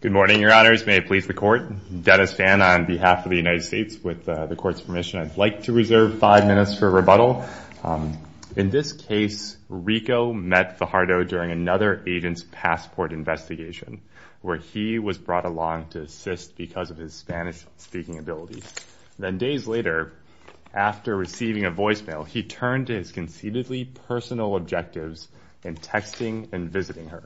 Good morning, your honors. May it please the court. Dennis Fan on behalf of the United States. With the court's permission, I'd like to reserve five minutes for rebuttal. In this case, Rico met Fajardo during another agent's passport investigation where he was brought along to assist because of his Spanish-speaking ability. Then days later, after receiving a voicemail, he turned to his conceitedly personal objectives in texting and visiting her.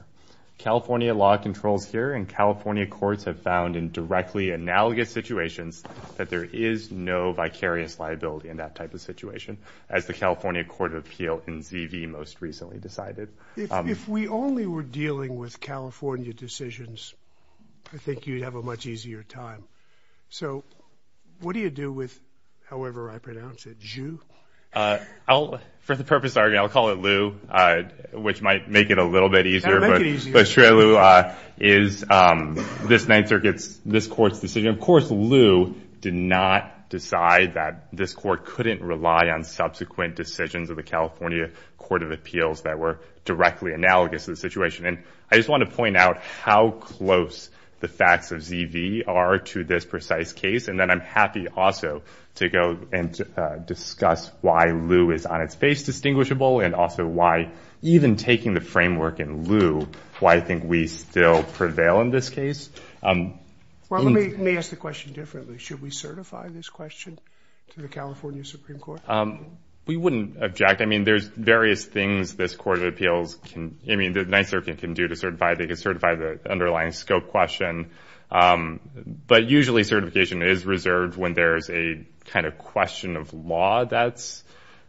California law controls here, and California courts have found in directly analogous situations that there is no vicarious liability in that type of situation, as the California Court of Appeal in ZV most recently decided. If we only were dealing with California decisions, I think you'd have a much easier time. So what do you do with, however I pronounce it, Zhu? For the purpose of argument, I'll call it Lu, which might make it a little bit easier. But Lu is this Ninth Circuit's, this court's decision. Of course, Lu did not decide that this court couldn't rely on subsequent decisions of the California Court of Appeals that were directly analogous to the situation. And I just want to point out how close the facts of ZV are to this precise case. And then I'm happy also to go and discuss why Lu is on its face distinguishable and also why even taking the framework in Lu, why I think we still prevail in this case. Well, let me ask the question differently. Should we certify this question to the California Supreme Court? We wouldn't object. I mean, there's various things this Court of Appeals can, I mean, the Ninth Circuit can do to certify. They can certify the underlying scope question. But usually certification is reserved when there's a kind of question of law that's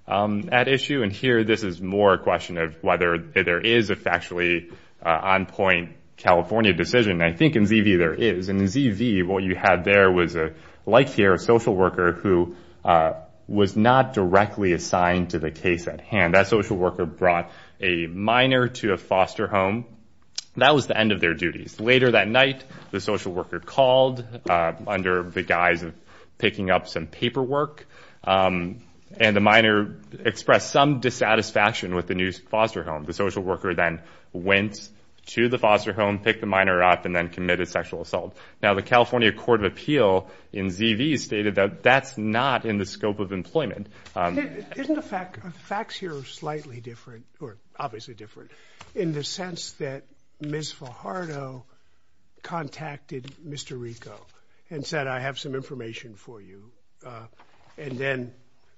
at issue. And here this is more a question of whether there is a factually on-point California decision. And I think in ZV there is. And in ZV, what you had there was, like here, a social worker who was not directly assigned to the case at hand. That social worker brought a minor to a foster home. That was the end of their duties. Later that night, the social worker called under the guise of picking up some paperwork. And the minor expressed some dissatisfaction with the new foster home. The social worker then went to the foster home, picked the minor up, and then committed sexual assault. Now, the California Court of Appeal in ZV stated that that's not in the scope of employment. Isn't the facts here slightly different, or obviously different, in the sense that Ms. Fajardo contacted Mr. Rico and said, I have some information for you. And then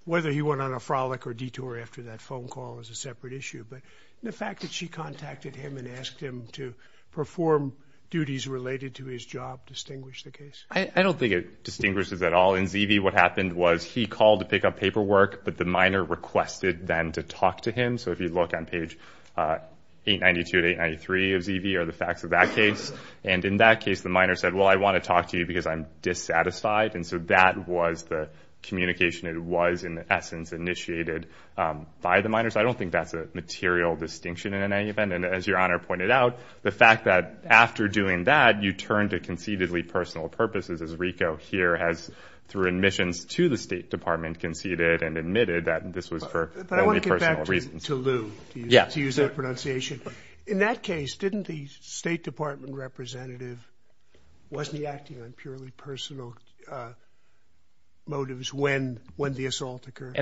whether he went on a frolic or detour after that phone call is a separate issue. But the fact that she contacted him and asked him to perform duties related to his job distinguished the case? I don't think it distinguishes at all. In ZV, what happened was he called to pick up paperwork, but the minor requested then to talk to him. So if you look on page 892 to 893 of ZV are the facts of that case. And in that case, the minor said, well, I want to talk to you because I'm dissatisfied. And so that was the communication. It was, in essence, initiated by the minor. So I don't think that's a material distinction in any event. And as Your Honor pointed out, the fact that after doing that, you turned to conceitedly personal purposes, as Rico here has, through admissions to the State Department, conceited and admitted that this was for only personal reasons. But I want to get back to Lew, to use that pronunciation. In that case, didn't the State Department representative, wasn't he acting on purely personal motives when the assault occurred?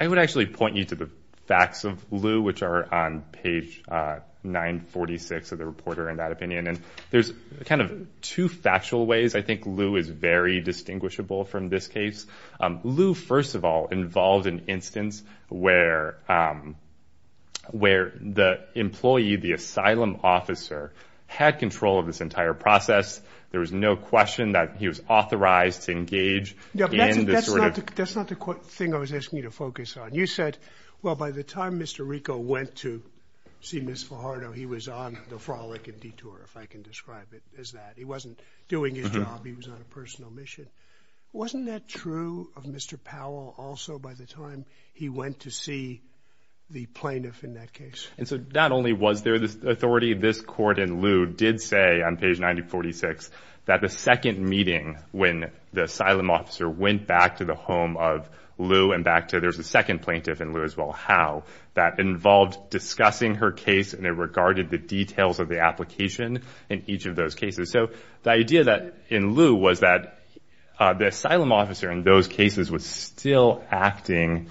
I would actually point you to the facts of Lew, which are on page 946 of the reporter, in that opinion. And there's kind of two factual ways I think Lew is very distinguishable from this case. Lew, first of all, involved an instance where the employee, the asylum officer, had control of this entire process. There was no question that he was authorized to engage in this sort of. That's not the thing I was asking you to focus on. You said, well, by the time Mr. Rico went to see Ms. Fajardo, he was on the frolic and detour, if I can describe it as that. He wasn't doing his job. He was on a personal mission. Wasn't that true of Mr. Powell also by the time he went to see the plaintiff in that case? And so not only was there this authority, this court in Lew did say on page 946 that the second meeting when the asylum officer went back to the home of Lew and back to the second plaintiff in Lew as well, how that involved discussing her case and it regarded the details of the application in each of those cases. So the idea in Lew was that the asylum officer in those cases was still acting,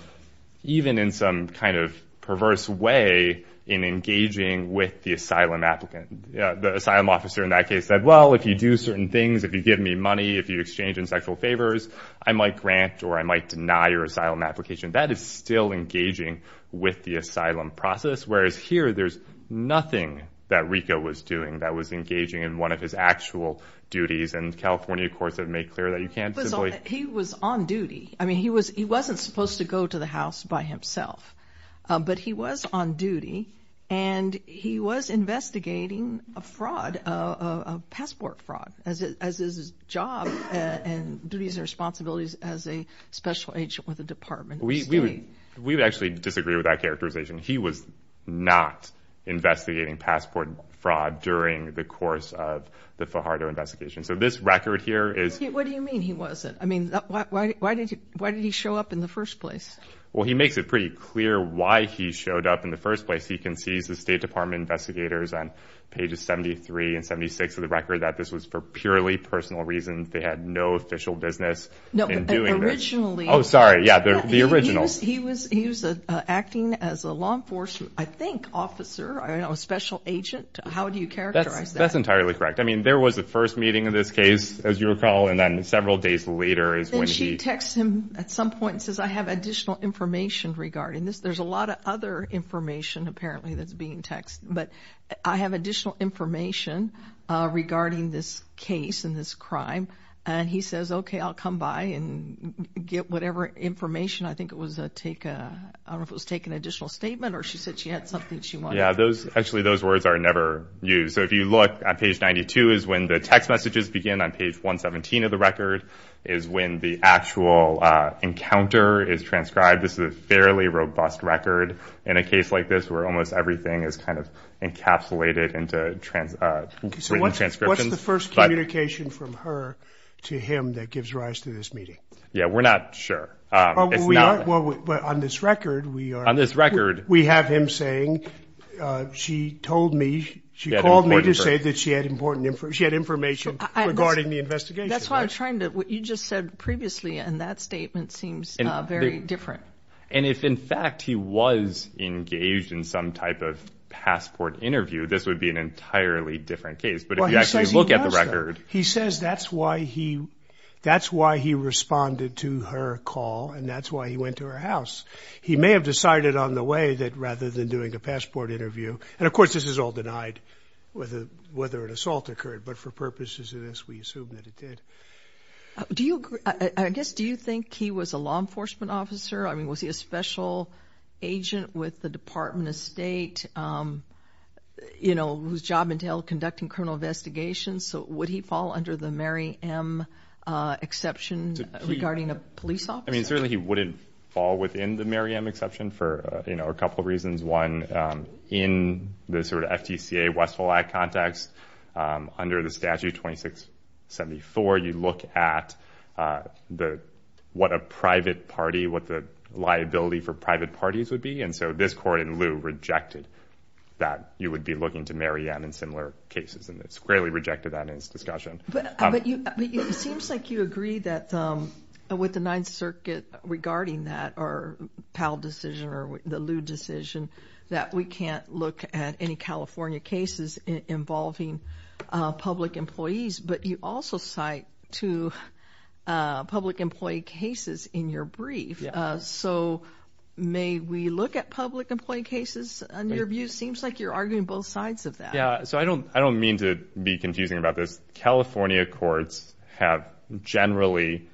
even in some kind of perverse way, in engaging with the asylum applicant. The asylum officer in that case said, well, if you do certain things, if you give me money, if you exchange in sexual favors, I might grant or I might deny your asylum application. That is still engaging with the asylum process, whereas here there's nothing that Rico was doing that was engaging in one of his actual duties. And California courts have made clear that you can't simply- He was on duty. I mean, he wasn't supposed to go to the house by himself, but he was on duty, and he was investigating a fraud, a passport fraud, as is his job and duties and responsibilities as a special agent with the Department of State. We actually disagree with that characterization. He was not investigating passport fraud during the course of the Fajardo investigation. So this record here is- What do you mean he wasn't? I mean, why did he show up in the first place? Well, he makes it pretty clear why he showed up in the first place. He concedes the State Department investigators on pages 73 and 76 of the record that this was for purely personal reasons. They had no official business in doing this. No, but originally- Oh, sorry. Yeah, the original. He was acting as a law enforcement, I think, officer, a special agent. How do you characterize that? That's entirely correct. I mean, there was a first meeting of this case, as you recall, and then several days later is when he- He texts him at some point and says, I have additional information regarding this. There's a lot of other information, apparently, that's being texted. But I have additional information regarding this case and this crime. And he says, okay, I'll come by and get whatever information. I think it was a take-I don't know if it was take an additional statement or she said she had something she wanted- Yeah, actually, those words are never used. So if you look at page 92 is when the text messages begin on page 117 of the record is when the actual encounter is transcribed. This is a fairly robust record in a case like this where almost everything is kind of encapsulated into transcriptions. So what's the first communication from her to him that gives rise to this meeting? Yeah, we're not sure. It's not- Well, on this record, we are- On this record- We have him saying, she told me, she called me to say that she had important- She had information regarding the investigation. That's what I'm trying to- What you just said previously in that statement seems very different. And if, in fact, he was engaged in some type of passport interview, this would be an entirely different case. But if you actually look at the record- Well, he says he was, though. He says that's why he responded to her call and that's why he went to her house. He may have decided on the way that rather than doing a passport interview- And, of course, this is all denied whether an assault occurred. But for purposes of this, we assume that it did. Do you- I guess, do you think he was a law enforcement officer? I mean, was he a special agent with the Department of State, you know, whose job entailed conducting criminal investigations? So would he fall under the Mary M exception regarding a police officer? I mean, certainly he wouldn't fall within the Mary M exception for, you know, a couple of reasons. One, in the sort of FTCA Westfall Act context, under the Statute 2674, you look at what a private party- what the liability for private parties would be. And so this court in lieu rejected that you would be looking to Mary M in similar cases. And it squarely rejected that in its discussion. But it seems like you agree that with the Ninth Circuit regarding that, or Powell decision or the Liu decision, that we can't look at any California cases involving public employees. But you also cite two public employee cases in your brief. So may we look at public employee cases in your view? Seems like you're arguing both sides of that. Yeah, so I don't mean to be confusing about this. California courts have generally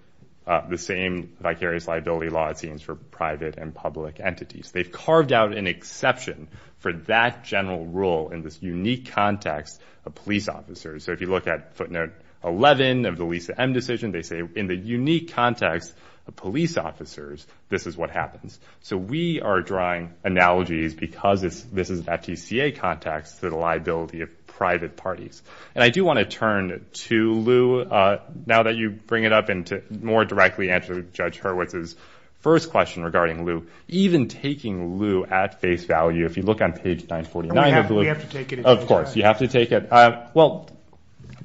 the same vicarious liability law it seems for private and public entities. They've carved out an exception for that general rule in this unique context of police officers. So if you look at footnote 11 of the Lisa M decision, they say in the unique context of police officers, this is what happens. So we are drawing analogies because this is an FTCA context to the liability of private parties. And I do want to turn to Liu. Now that you bring it up and to more directly answer Judge Hurwitz's first question regarding Liu, even taking Liu at face value, if you look on page 949- We have to take it at face value. Of course, you have to take it. Well,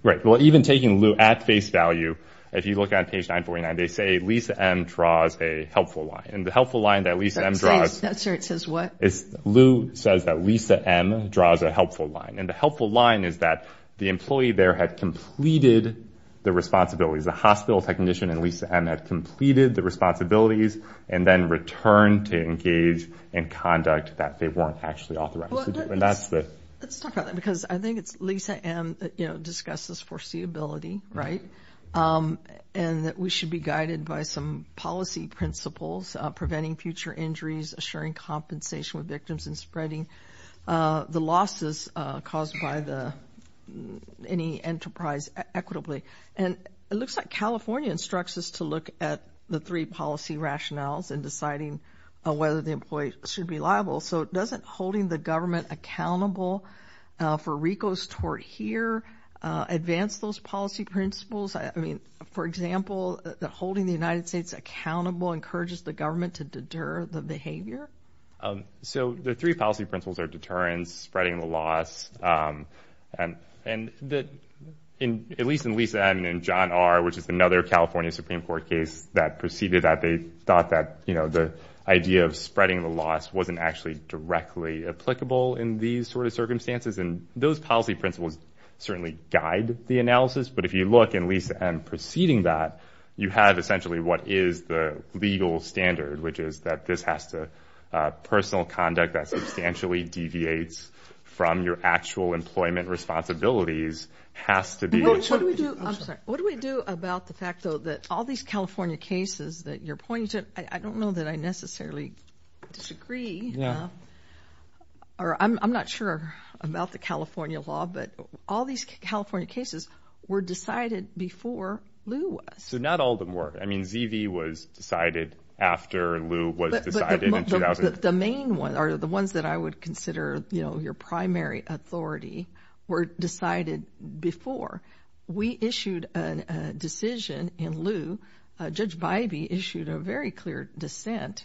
right. Well, even taking Liu at face value, if you look at page 949, they say Lisa M draws a helpful line. And the helpful line that Lisa M draws- That's where it says what? Liu says that Lisa M draws a helpful line. And the helpful line is that the employee there had completed the responsibilities. The hospital technician and Lisa M had completed the responsibilities and then returned to engage in conduct that they weren't actually authorized to do. Let's talk about that because I think it's Lisa M that discusses foreseeability, right? And that we should be guided by some policy principles, preventing future injuries, assuring compensation with victims and spreading the losses caused by any enterprise equitably. And it looks like California instructs us to look at the three policy rationales in deciding whether the employee should be liable. So doesn't holding the government accountable for RICO's tort here advance those policy principles? I mean, for example, that holding the United States accountable encourages the government to deter the behavior? So the three policy principles are deterrence, spreading the loss. And at least in Lisa M and John R, which is another California Supreme Court case that proceeded that, they thought that, you know, the idea of spreading the loss wasn't actually directly applicable in these sort of circumstances. And those policy principles certainly guide the analysis. But if you look in Lisa M preceding that, you have essentially what is the legal standard, which is that this has to personal conduct that substantially deviates from your actual employment responsibilities has to be. What do we do about the fact, though, that all these California cases that you're pointing to, I don't know that I necessarily disagree or I'm not sure about the California law, but all these California cases were decided before Lew was. So not all of them were. I mean, ZV was decided after Lew was decided in 2000. The main ones are the ones that I would consider, you know, your primary authority were decided before. We issued a decision in Lew. Judge Bybee issued a very clear dissent.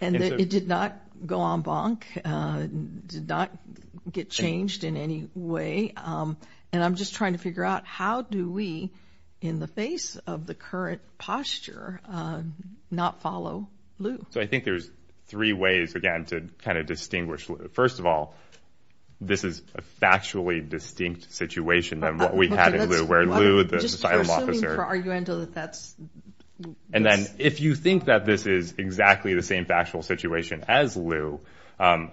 And it did not go en banc, did not get changed in any way. And I'm just trying to figure out how do we, in the face of the current posture, not follow Lew? So I think there's three ways, again, to kind of distinguish. First of all, this is a factually distinct situation than what we had in Lew, where Lew, the asylum officer. And then if you think that this is exactly the same factual situation as Lew,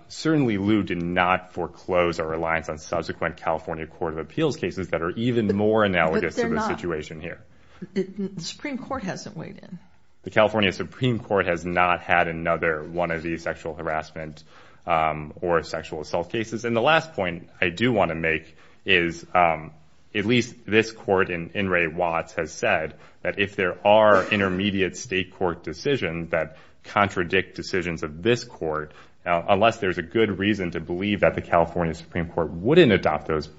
certainly Lew did not foreclose or reliance on subsequent California court of appeals cases that are even more analogous to the situation here. The Supreme Court hasn't weighed in. The California Supreme Court has not had another one of these sexual harassment or sexual assault cases. And the last point I do want to make is at least this court in In re Watts has said that if there are intermediate state court decisions that contradict decisions of this court, unless there is a good reason to believe that the California Supreme Court wouldn't adopt those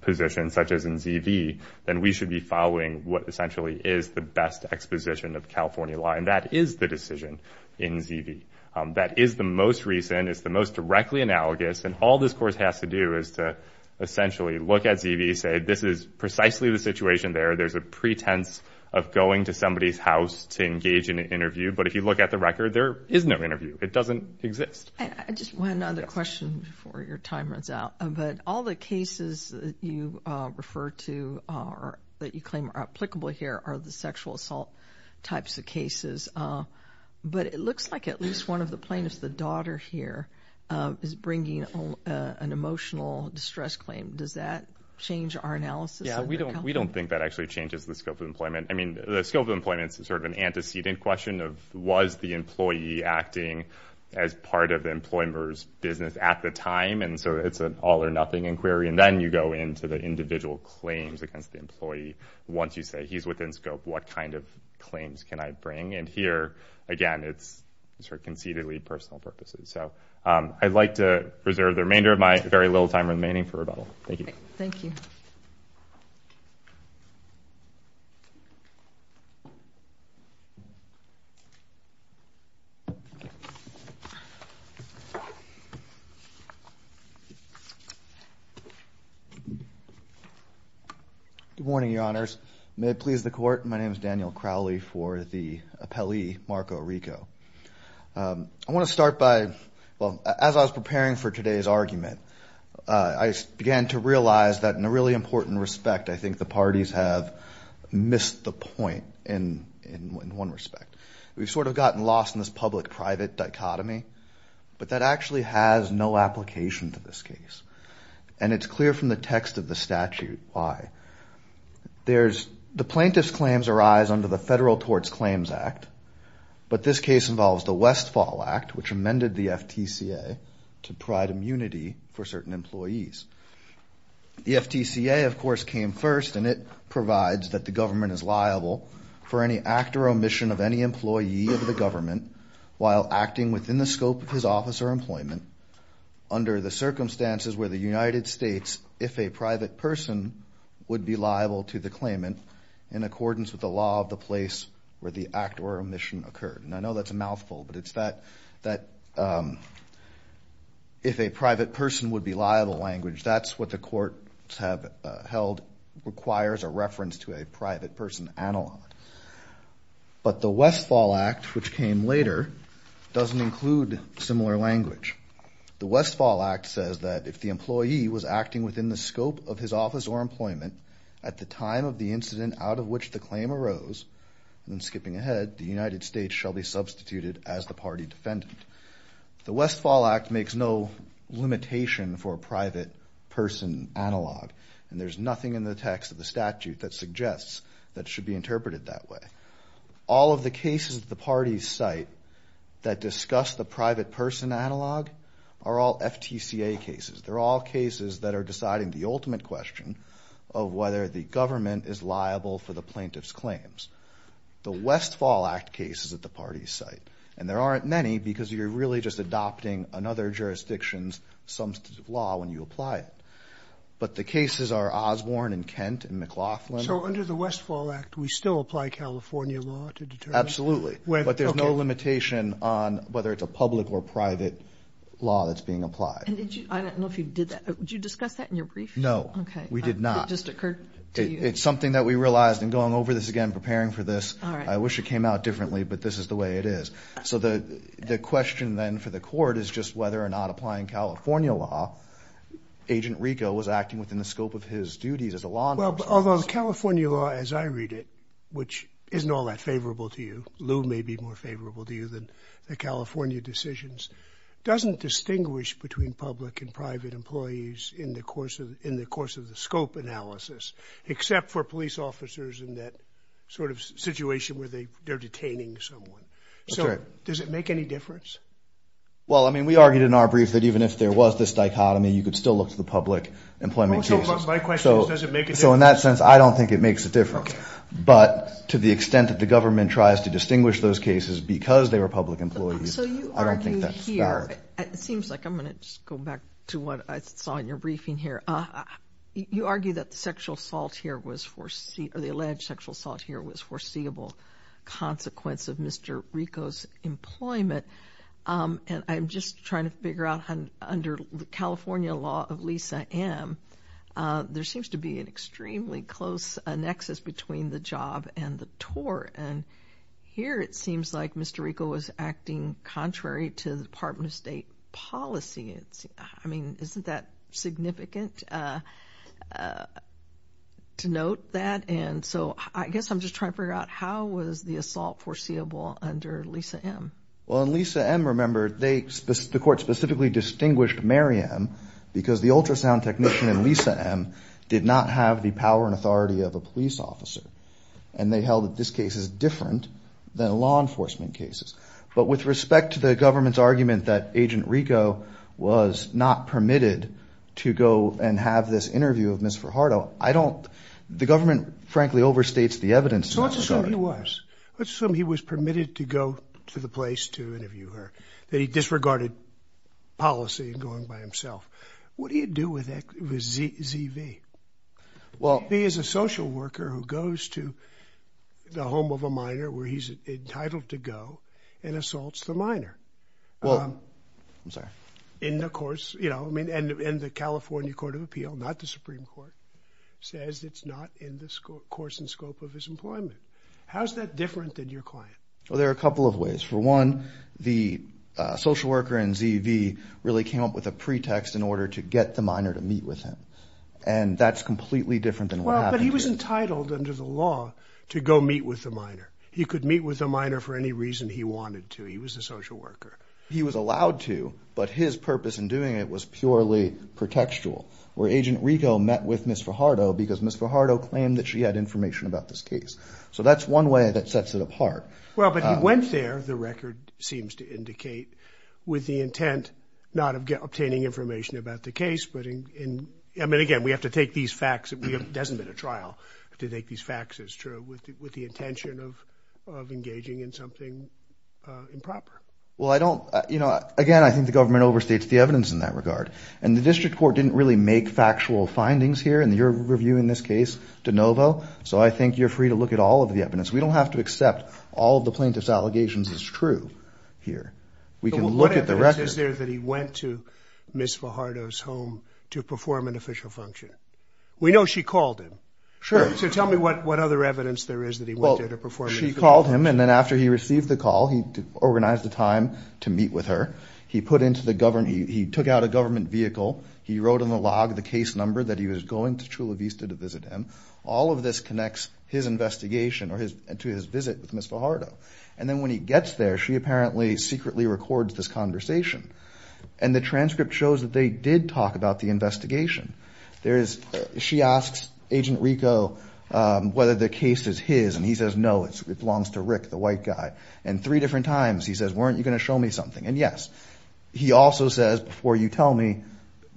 positions, such as in ZV, then we should be following what essentially is the best exposition of California law, and that is the decision in ZV. That is the most recent. It's the most directly analogous. And all this court has to do is to essentially look at ZV, say this is precisely the situation there. There's a pretense of going to somebody's house to engage in an interview. But if you look at the record, there is no interview. It doesn't exist. Just one other question before your time runs out. But all the cases you refer to are that you claim are applicable here are the sexual assault types of cases. But it looks like at least one of the plaintiffs, the daughter here, is bringing an emotional distress claim. Does that change our analysis? Yeah, we don't we don't think that actually changes the scope of employment. I mean, the scope of employment is sort of an antecedent question of was the employee acting as part of the employer's business at the time? And so it's an all or nothing inquiry. And then you go into the individual claims against the employee. Once you say he's within scope, what kind of claims can I bring? And here, again, it's sort of conceitedly personal purposes. So I'd like to preserve the remainder of my very little time remaining for rebuttal. Thank you. Thank you. Good morning, Your Honors. May it please the court. My name is Daniel Crowley for the appellee, Marco Rico. I want to start by as I was preparing for today's argument. I began to realize that in a really important respect, I think the parties have missed the point in one respect. We've sort of gotten lost in this public-private dichotomy. But that actually has no application to this case. And it's clear from the text of the statute why. There's the plaintiff's claims arise under the Federal Torts Claims Act. But this case involves the Westfall Act, which amended the FTCA to provide immunity for certain employees. The FTCA, of course, came first, and it provides that the government is liable for any act or omission of any employee of the government while acting within the scope of his office or employment under the circumstances where the United States, if a private person, would be liable to the claimant in accordance with the law of the place where the act or omission occurred. And I know that's a mouthful, but it's that if a private person would be liable language, that's what the courts have held requires a reference to a private person analog. But the Westfall Act, which came later, doesn't include similar language. The Westfall Act says that if the employee was acting within the scope of his office or employment at the time of the incident out of which the claim arose, and then skipping ahead, the United States shall be substituted as the party defendant. The Westfall Act makes no limitation for a private person analog, and there's nothing in the text of the statute that suggests that it should be interpreted that way. All of the cases at the parties' site that discuss the private person analog are all FTCA cases. They're all cases that are deciding the ultimate question of whether the government is liable for the plaintiff's claims. The Westfall Act case is at the parties' site, and there aren't many because you're really just adopting another jurisdiction's substantive law when you apply it. But the cases are Osborne and Kent and McLaughlin. So under the Westfall Act, we still apply California law to determine? Absolutely. But there's no limitation on whether it's a public or private law that's being applied. I don't know if you did that. Did you discuss that in your brief? No, we did not. Okay. It just occurred to you? It's something that we realized in going over this again, preparing for this. All right. I wish it came out differently, but this is the way it is. So the question then for the court is just whether or not applying California law, Agent Rico was acting within the scope of his duties as a law enforcement officer. Well, although the California law as I read it, which isn't all that favorable to you, Lou may be more favorable to you than the California decisions, doesn't distinguish between public and private employees in the course of the scope analysis, except for police officers in that sort of situation where they're detaining someone. So does it make any difference? Well, I mean, we argued in our brief that even if there was this dichotomy, you could still look to the public employment cases. So my question is, does it make a difference? So in that sense, I don't think it makes a difference. Okay. But to the extent that the government tries to distinguish those cases because they were public employees, I don't think that's fair. So you argue here, it seems like, I'm going to just go back to what I saw in your briefing here, you argue that the alleged sexual assault here was foreseeable consequence of Mr. Rico's employment. And I'm just trying to figure out under the California law of Lisa M., there seems to be an extremely close nexus between the job and the tort. And here it seems like Mr. Rico was acting contrary to the Department of State policy. I mean, isn't that significant to note that? And so I guess I'm just trying to figure out how was the assault foreseeable under Lisa M.? Well, in Lisa M., remember, the court specifically distinguished Mary M. because the ultrasound technician in Lisa M. did not have the power and authority of a police officer. And they held that this case is different than law enforcement cases. But with respect to the government's argument that Agent Rico was not permitted to go and have this interview of Ms. Fajardo, I don't – the government, frankly, overstates the evidence. So let's assume he was. Let's assume he was permitted to go to the place to interview her, that he disregarded policy and going by himself. What do you do with Z.V.? Well. He is a social worker who goes to the home of a minor where he's entitled to go and assaults the minor. Well. I'm sorry. In the course – you know, I mean, and the California Court of Appeal, not the Supreme Court, says it's not in the course and scope of his employment. How is that different than your client? Well, there are a couple of ways. For one, the social worker in Z.V. really came up with a pretext in order to get the minor to meet with him. And that's completely different than what happened here. Well, but he was entitled under the law to go meet with the minor. He could meet with the minor for any reason he wanted to. He was a social worker. He was allowed to, but his purpose in doing it was purely pretextual, where Agent Rico met with Ms. Fajardo because Ms. Fajardo claimed that she had information about this case. So that's one way that sets it apart. Well, but he went there, the record seems to indicate, with the intent not of obtaining information about the case, but in – I mean, again, we have to take these facts – it hasn't been a trial to take these facts, it's true, with the intention of engaging in something improper. Well, I don't – you know, again, I think the government overstates the evidence in that regard. And the district court didn't really make factual findings here in your review in this case, DeNovo, so I think you're free to look at all of the evidence. We don't have to accept all of the plaintiff's allegations as true here. We can look at the record. So what evidence is there that he went to Ms. Fajardo's home to perform an official function? We know she called him. Sure. So tell me what other evidence there is that he went there to perform an official function. Well, she called him, and then after he received the call, he organized the time to meet with her. He put into the – he took out a government vehicle. He wrote on the log the case number that he was going to Chula Vista to visit him. All of this connects his investigation or his – to his visit with Ms. Fajardo. And then when he gets there, she apparently secretly records this conversation. And the transcript shows that they did talk about the investigation. There is – she asks Agent Rico whether the case is his, and he says, no, it belongs to Rick, the white guy. And three different times he says, weren't you going to show me something? And, yes, he also says, before you tell me,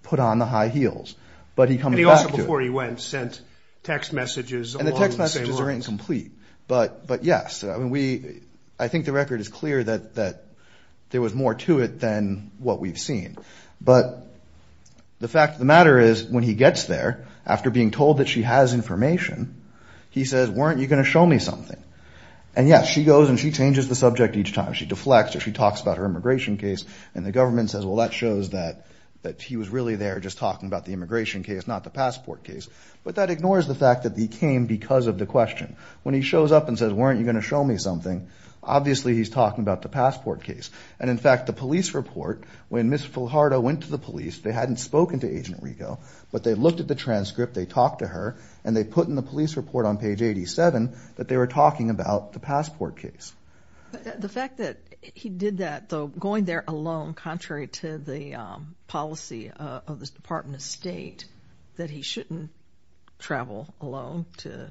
put on the high heels. But he comes back to it. And he also, before he went, sent text messages along the same lines. And the text messages are incomplete. But, yes, I mean, we – I think the record is clear that there was more to it than what we've seen. But the fact of the matter is when he gets there, after being told that she has information, he says, weren't you going to show me something? And, yes, she goes and she changes the subject each time. She deflects or she talks about her immigration case. And the government says, well, that shows that he was really there just talking about the immigration case, not the passport case. But that ignores the fact that he came because of the question. When he shows up and says, weren't you going to show me something, obviously he's talking about the passport case. And, in fact, the police report, when Ms. Fajardo went to the police, they hadn't spoken to Agent Rico, but they looked at the transcript, they talked to her, and they put in the police report on page 87 that they were talking about the passport case. The fact that he did that, though, going there alone, contrary to the policy of the Department of State, that he shouldn't travel alone to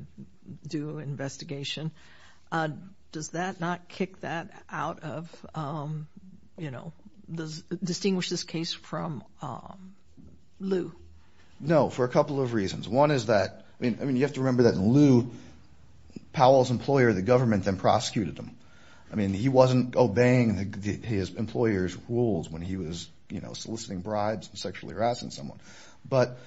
do an investigation, does that not kick that out of – you know, distinguish this case from Lew? No, for a couple of reasons. One is that – I mean, you have to remember that in Lew, Powell's employer, the government, then prosecuted him. I mean, he wasn't obeying his employer's rules when he was, you know, soliciting bribes and sexually harassing someone. But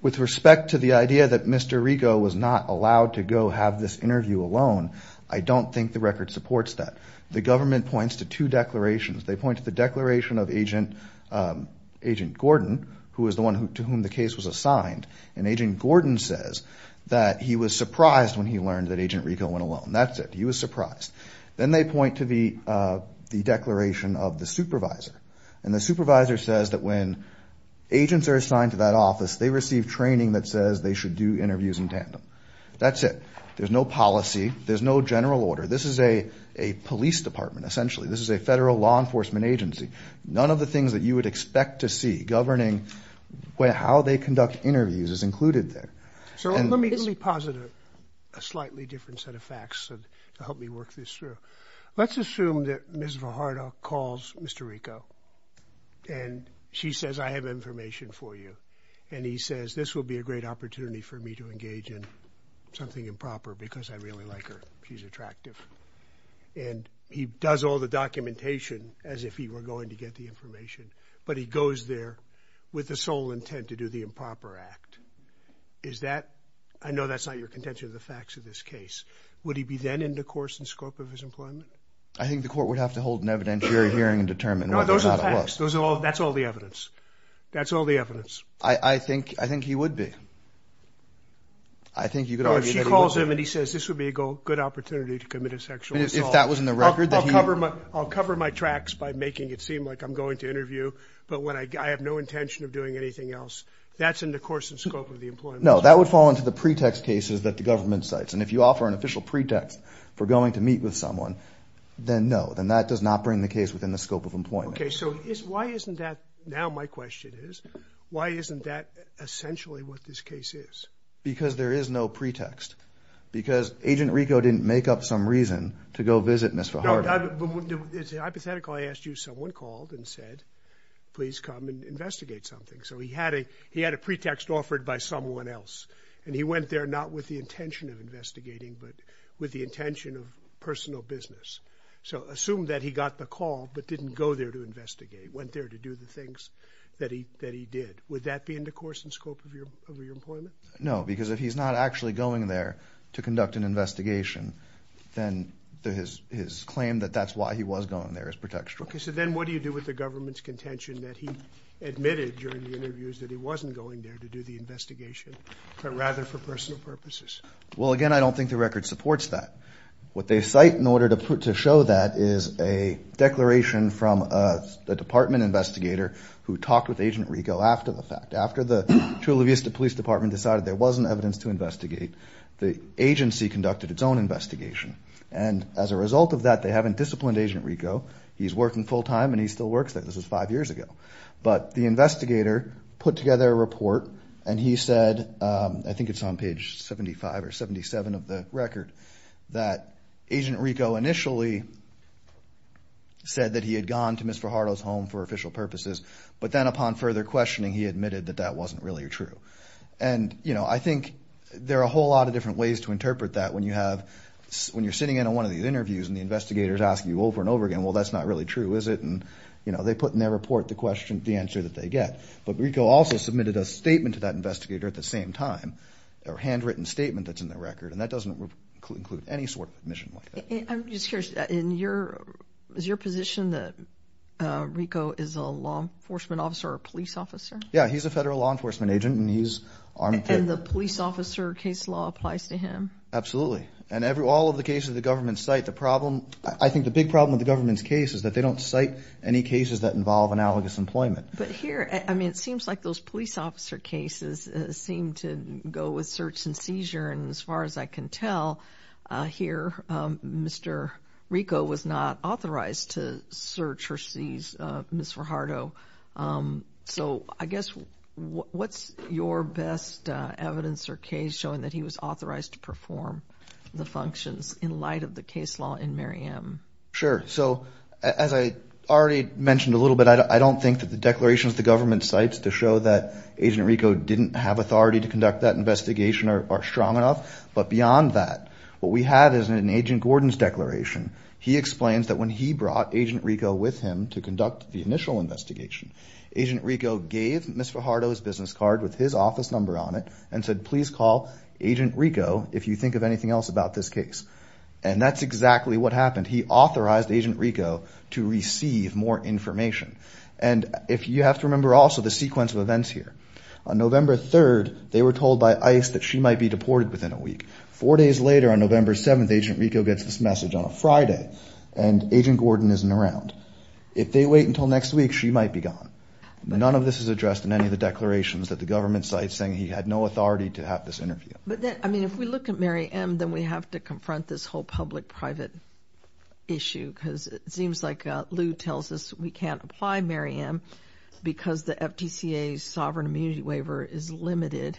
with respect to the idea that Mr. Rico was not allowed to go have this interview alone, I don't think the record supports that. The government points to two declarations. They point to the declaration of Agent Gordon, who is the one to whom the case was assigned. And Agent Gordon says that he was surprised when he learned that Agent Rico went alone. That's it. He was surprised. Then they point to the declaration of the supervisor, and the supervisor says that when agents are assigned to that office, they receive training that says they should do interviews in tandem. That's it. There's no policy. There's no general order. This is a police department, essentially. This is a federal law enforcement agency. None of the things that you would expect to see governing how they conduct interviews is included there. So let me really posit a slightly different set of facts to help me work this through. Let's assume that Ms. Vajardo calls Mr. Rico, and she says, I have information for you. And he says, this will be a great opportunity for me to engage in something improper because I really like her. She's attractive. And he does all the documentation as if he were going to get the information, but he goes there with the sole intent to do the improper act. Is that – I know that's not your contention of the facts of this case. Would he be then in the course and scope of his employment? I think the court would have to hold an evidentiary hearing and determine whether or not it was. No, those are the facts. That's all the evidence. That's all the evidence. I think he would be. If she calls him and he says, this would be a good opportunity to commit a sexual assault. If that was in the record. I'll cover my tracks by making it seem like I'm going to interview, but I have no intention of doing anything else. That's in the course and scope of the employment. No, that would fall into the pretext cases that the government cites. And if you offer an official pretext for going to meet with someone, then no. Then that does not bring the case within the scope of employment. Okay, so why isn't that – now my question is, why isn't that essentially what this case is? Because there is no pretext. Because Agent Rico didn't make up some reason to go visit Ms. Fajardo. No, it's hypothetical. I asked you, someone called and said, please come and investigate something. So he had a pretext offered by someone else. And he went there not with the intention of investigating, but with the intention of personal business. So assume that he got the call, but didn't go there to investigate. He went there to do the things that he did. Would that be in the course and scope of your employment? No, because if he's not actually going there to conduct an investigation, then his claim that that's why he was going there is pretextual. Okay, so then what do you do with the government's contention that he admitted during the interviews that he wasn't going there to do the investigation, but rather for personal purposes? Well, again, I don't think the record supports that. What they cite in order to show that is a declaration from a department investigator who talked with Agent Rico after the fact. After the Chula Vista Police Department decided there wasn't evidence to investigate, the agency conducted its own investigation. And as a result of that, they haven't disciplined Agent Rico. He's working full-time, and he still works there. This was five years ago. But the investigator put together a report, and he said, I think it's on page 75 or 77 of the record, that Agent Rico initially said that he had gone to Ms. Fajardo's home for official purposes, but then upon further questioning, he admitted that that wasn't really true. And, you know, I think there are a whole lot of different ways to interpret that when you're sitting in on one of these interviews, and the investigator is asking you over and over again, well, that's not really true, is it? And, you know, they put in their report the answer that they get. But Rico also submitted a statement to that investigator at the same time, a handwritten statement that's in the record, and that doesn't include any sort of admission like that. I'm just curious. Is your position that Rico is a law enforcement officer or a police officer? Yeah, he's a federal law enforcement agent, and he's armed to the teeth. And the police officer case law applies to him? Absolutely. And all of the cases the government cite, the problem, I think the big problem with the government's case is that they don't cite any cases that involve analogous employment. But here, I mean, it seems like those police officer cases seem to go with search and seizure, and as far as I can tell here, Mr. Rico was not authorized to search or seize Ms. Verhardo. So I guess what's your best evidence or case showing that he was authorized to perform the functions in light of the case law in Mary M.? Sure. So as I already mentioned a little bit, I don't think that the declarations the government cites to show that Agent Rico didn't have authority to conduct that investigation are strong enough. But beyond that, what we have is an Agent Gordon's declaration. He explains that when he brought Agent Rico with him to conduct the initial investigation, Agent Rico gave Ms. Verhardo his business card with his office number on it and said, please call Agent Rico if you think of anything else about this case. And that's exactly what happened. He authorized Agent Rico to receive more information. And you have to remember also the sequence of events here. On November 3rd, they were told by ICE that she might be deported within a week. Four days later, on November 7th, Agent Rico gets this message on a Friday, and Agent Gordon isn't around. If they wait until next week, she might be gone. None of this is addressed in any of the declarations that the government cites saying he had no authority to have this interview. But then, I mean, if we look at Mary M., then we have to confront this whole public-private issue because it seems like Lew tells us we can't apply Mary M. because the FTCA's sovereign immunity waiver is limited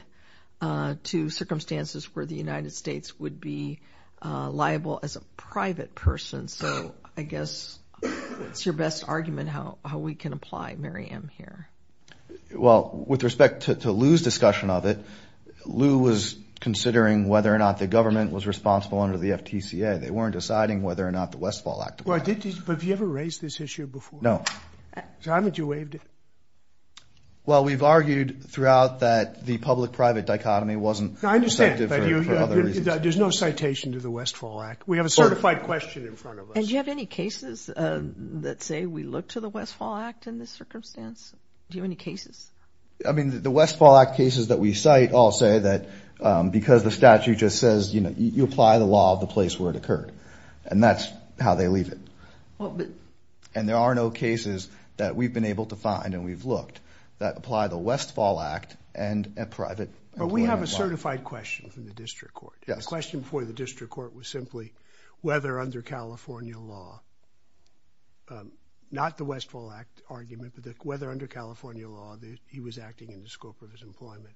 to circumstances where the United States would be liable as a private person. So I guess it's your best argument how we can apply Mary M. here. Well, with respect to Lew's discussion of it, Lew was considering whether or not the government was responsible under the FTCA. They weren't deciding whether or not the Westfall Act applies. But have you ever raised this issue before? No. So how have you waived it? Well, we've argued throughout that the public-private dichotomy wasn't effective for other reasons. I understand, but there's no citation to the Westfall Act. We have a certified question in front of us. And do you have any cases that say we look to the Westfall Act in this circumstance? Do you have any cases? I mean, the Westfall Act cases that we cite all say that because the statute just says, you know, you apply the law of the place where it occurred, and that's how they leave it. And there are no cases that we've been able to find and we've looked that apply the Westfall Act and private employment law. But we have a certified question from the district court. Yes. The question before the district court was simply whether under California law, not the Westfall Act argument, but whether under California law he was acting in the scope of his employment.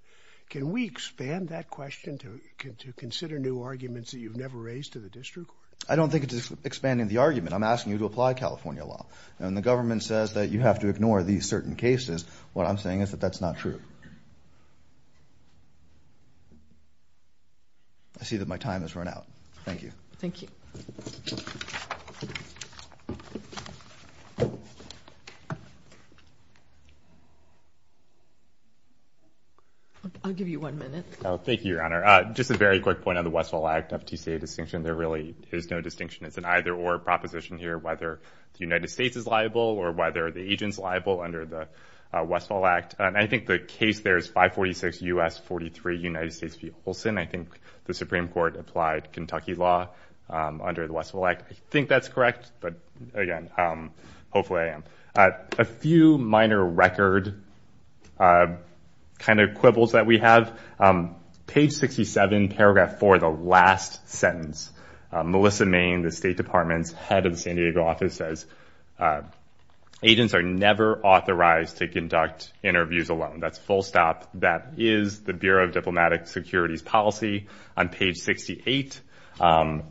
Can we expand that question to consider new arguments that you've never raised to the district court? I don't think it's expanding the argument. I'm asking you to apply California law. And when the government says that you have to ignore these certain cases, what I'm saying is that that's not true. I see that my time has run out. Thank you. Thank you. I'll give you one minute. Thank you, Your Honor. Just a very quick point on the Westfall Act FTCA distinction. There really is no distinction. It's an either-or proposition here, whether the United States is liable or whether the agent's liable under the Westfall Act. I think the case there is 546 U.S. 43 United States v. Olson. I think the Supreme Court applied Kentucky law under the Westfall Act. I think that's correct. But, again, hopefully I am. A few minor record kind of quibbles that we have. Page 67, paragraph 4, the last sentence. Melissa Main, the State Department's head of the San Diego office, says agents are never authorized to conduct interviews alone. That's full stop. That is the Bureau of Diplomatic Security's policy. On page 68,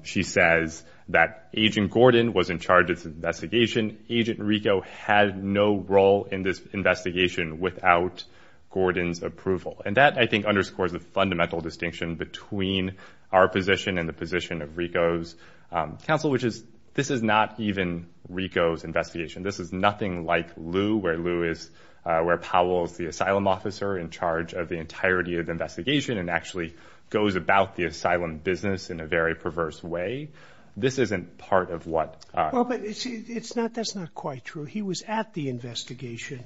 she says that Agent Gordon was in charge of this investigation. Agent Rico had no role in this investigation without Gordon's approval. And that, I think, underscores the fundamental distinction between our position and the position of Rico's counsel, which is this is not even Rico's investigation. This is nothing like Lew, where Lew is, where Powell is the asylum officer in charge of the entirety of the investigation and actually goes about the asylum business in a very perverse way. This isn't part of what. But that's not quite true. He was at the investigation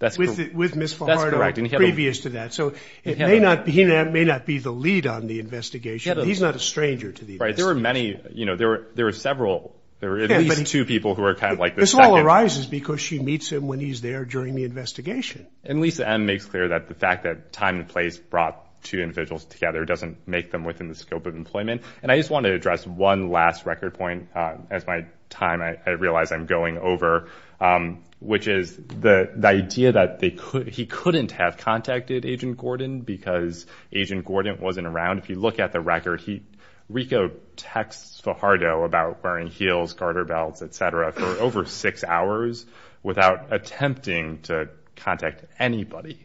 with Ms. Fajardo previous to that. So he may not be the lead on the investigation. He's not a stranger to the investigation. Right. There were many. There were several. There were at least two people who were kind of like the second. This all arises because she meets him when he's there during the investigation. And Lisa M. makes clear that the fact that time and place brought two individuals together doesn't make them within the scope of employment. And I just want to address one last record point as my time, I realize I'm going over, which is the idea that he couldn't have contacted Agent Gordon because Agent Gordon wasn't around. If you look at the record, Rico texts Fajardo about wearing heels, garter belts, et cetera, for over six hours without attempting to contact anybody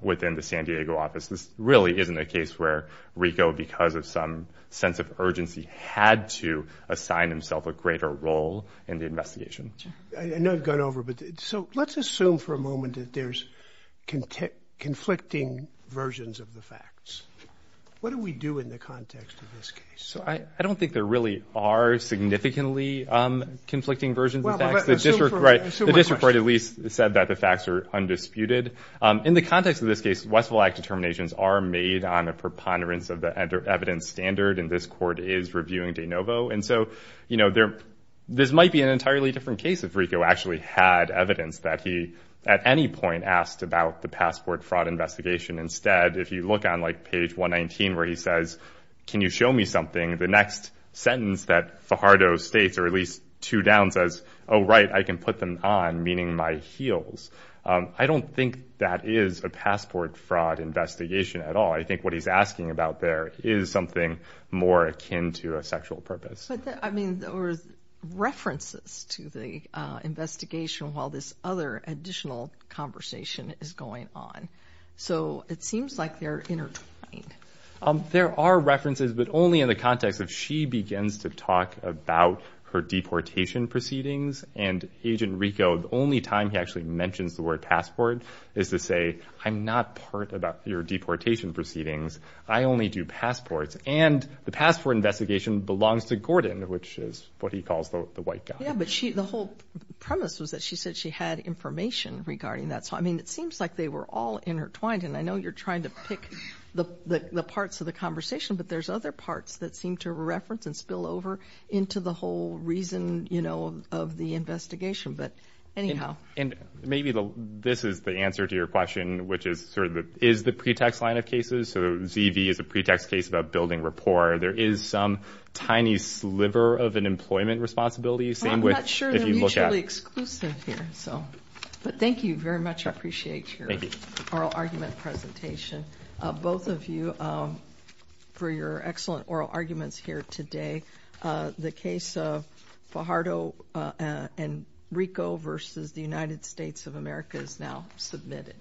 within the San Diego office. This really isn't a case where Rico, because of some sense of urgency, had to assign himself a greater role in the investigation. I know I've gone over, but let's assume for a moment that there's conflicting versions of the facts. What do we do in the context of this case? I don't think there really are significantly conflicting versions of the facts. The district court at least said that the facts are undisputed. In the context of this case, Westville Act determinations are made on a preponderance of the evidence standard, and this court is reviewing de novo. And so, you know, this might be an entirely different case if Rico actually had evidence that he at any point asked about the passport fraud investigation. Instead, if you look on, like, page 119 where he says, can you show me something, the next sentence that Fajardo states, or at least two downs, says, oh, right, I can put them on, meaning my heels. I don't think that is a passport fraud investigation at all. I think what he's asking about there is something more akin to a sexual purpose. But, I mean, there were references to the investigation while this other additional conversation is going on. So it seems like they're intertwined. There are references, but only in the context of she begins to talk about her deportation proceedings, and Agent Rico, the only time he actually mentions the word passport is to say, I'm not part about your deportation proceedings. I only do passports. And the passport investigation belongs to Gordon, which is what he calls the white guy. Yeah, but the whole premise was that she said she had information regarding that. So, I mean, it seems like they were all intertwined. And I know you're trying to pick the parts of the conversation, but there's other parts that seem to reference and spill over into the whole reason, you know, of the investigation. But anyhow. And maybe this is the answer to your question, which is sort of is the pretext line of cases. So ZV is a pretext case about building rapport. There is some tiny sliver of an employment responsibility. I'm not sure they're mutually exclusive here. But thank you very much. I appreciate your oral argument presentation. Both of you, for your excellent oral arguments here today, the case of Fajardo and Rico versus the United States of America is now submitted.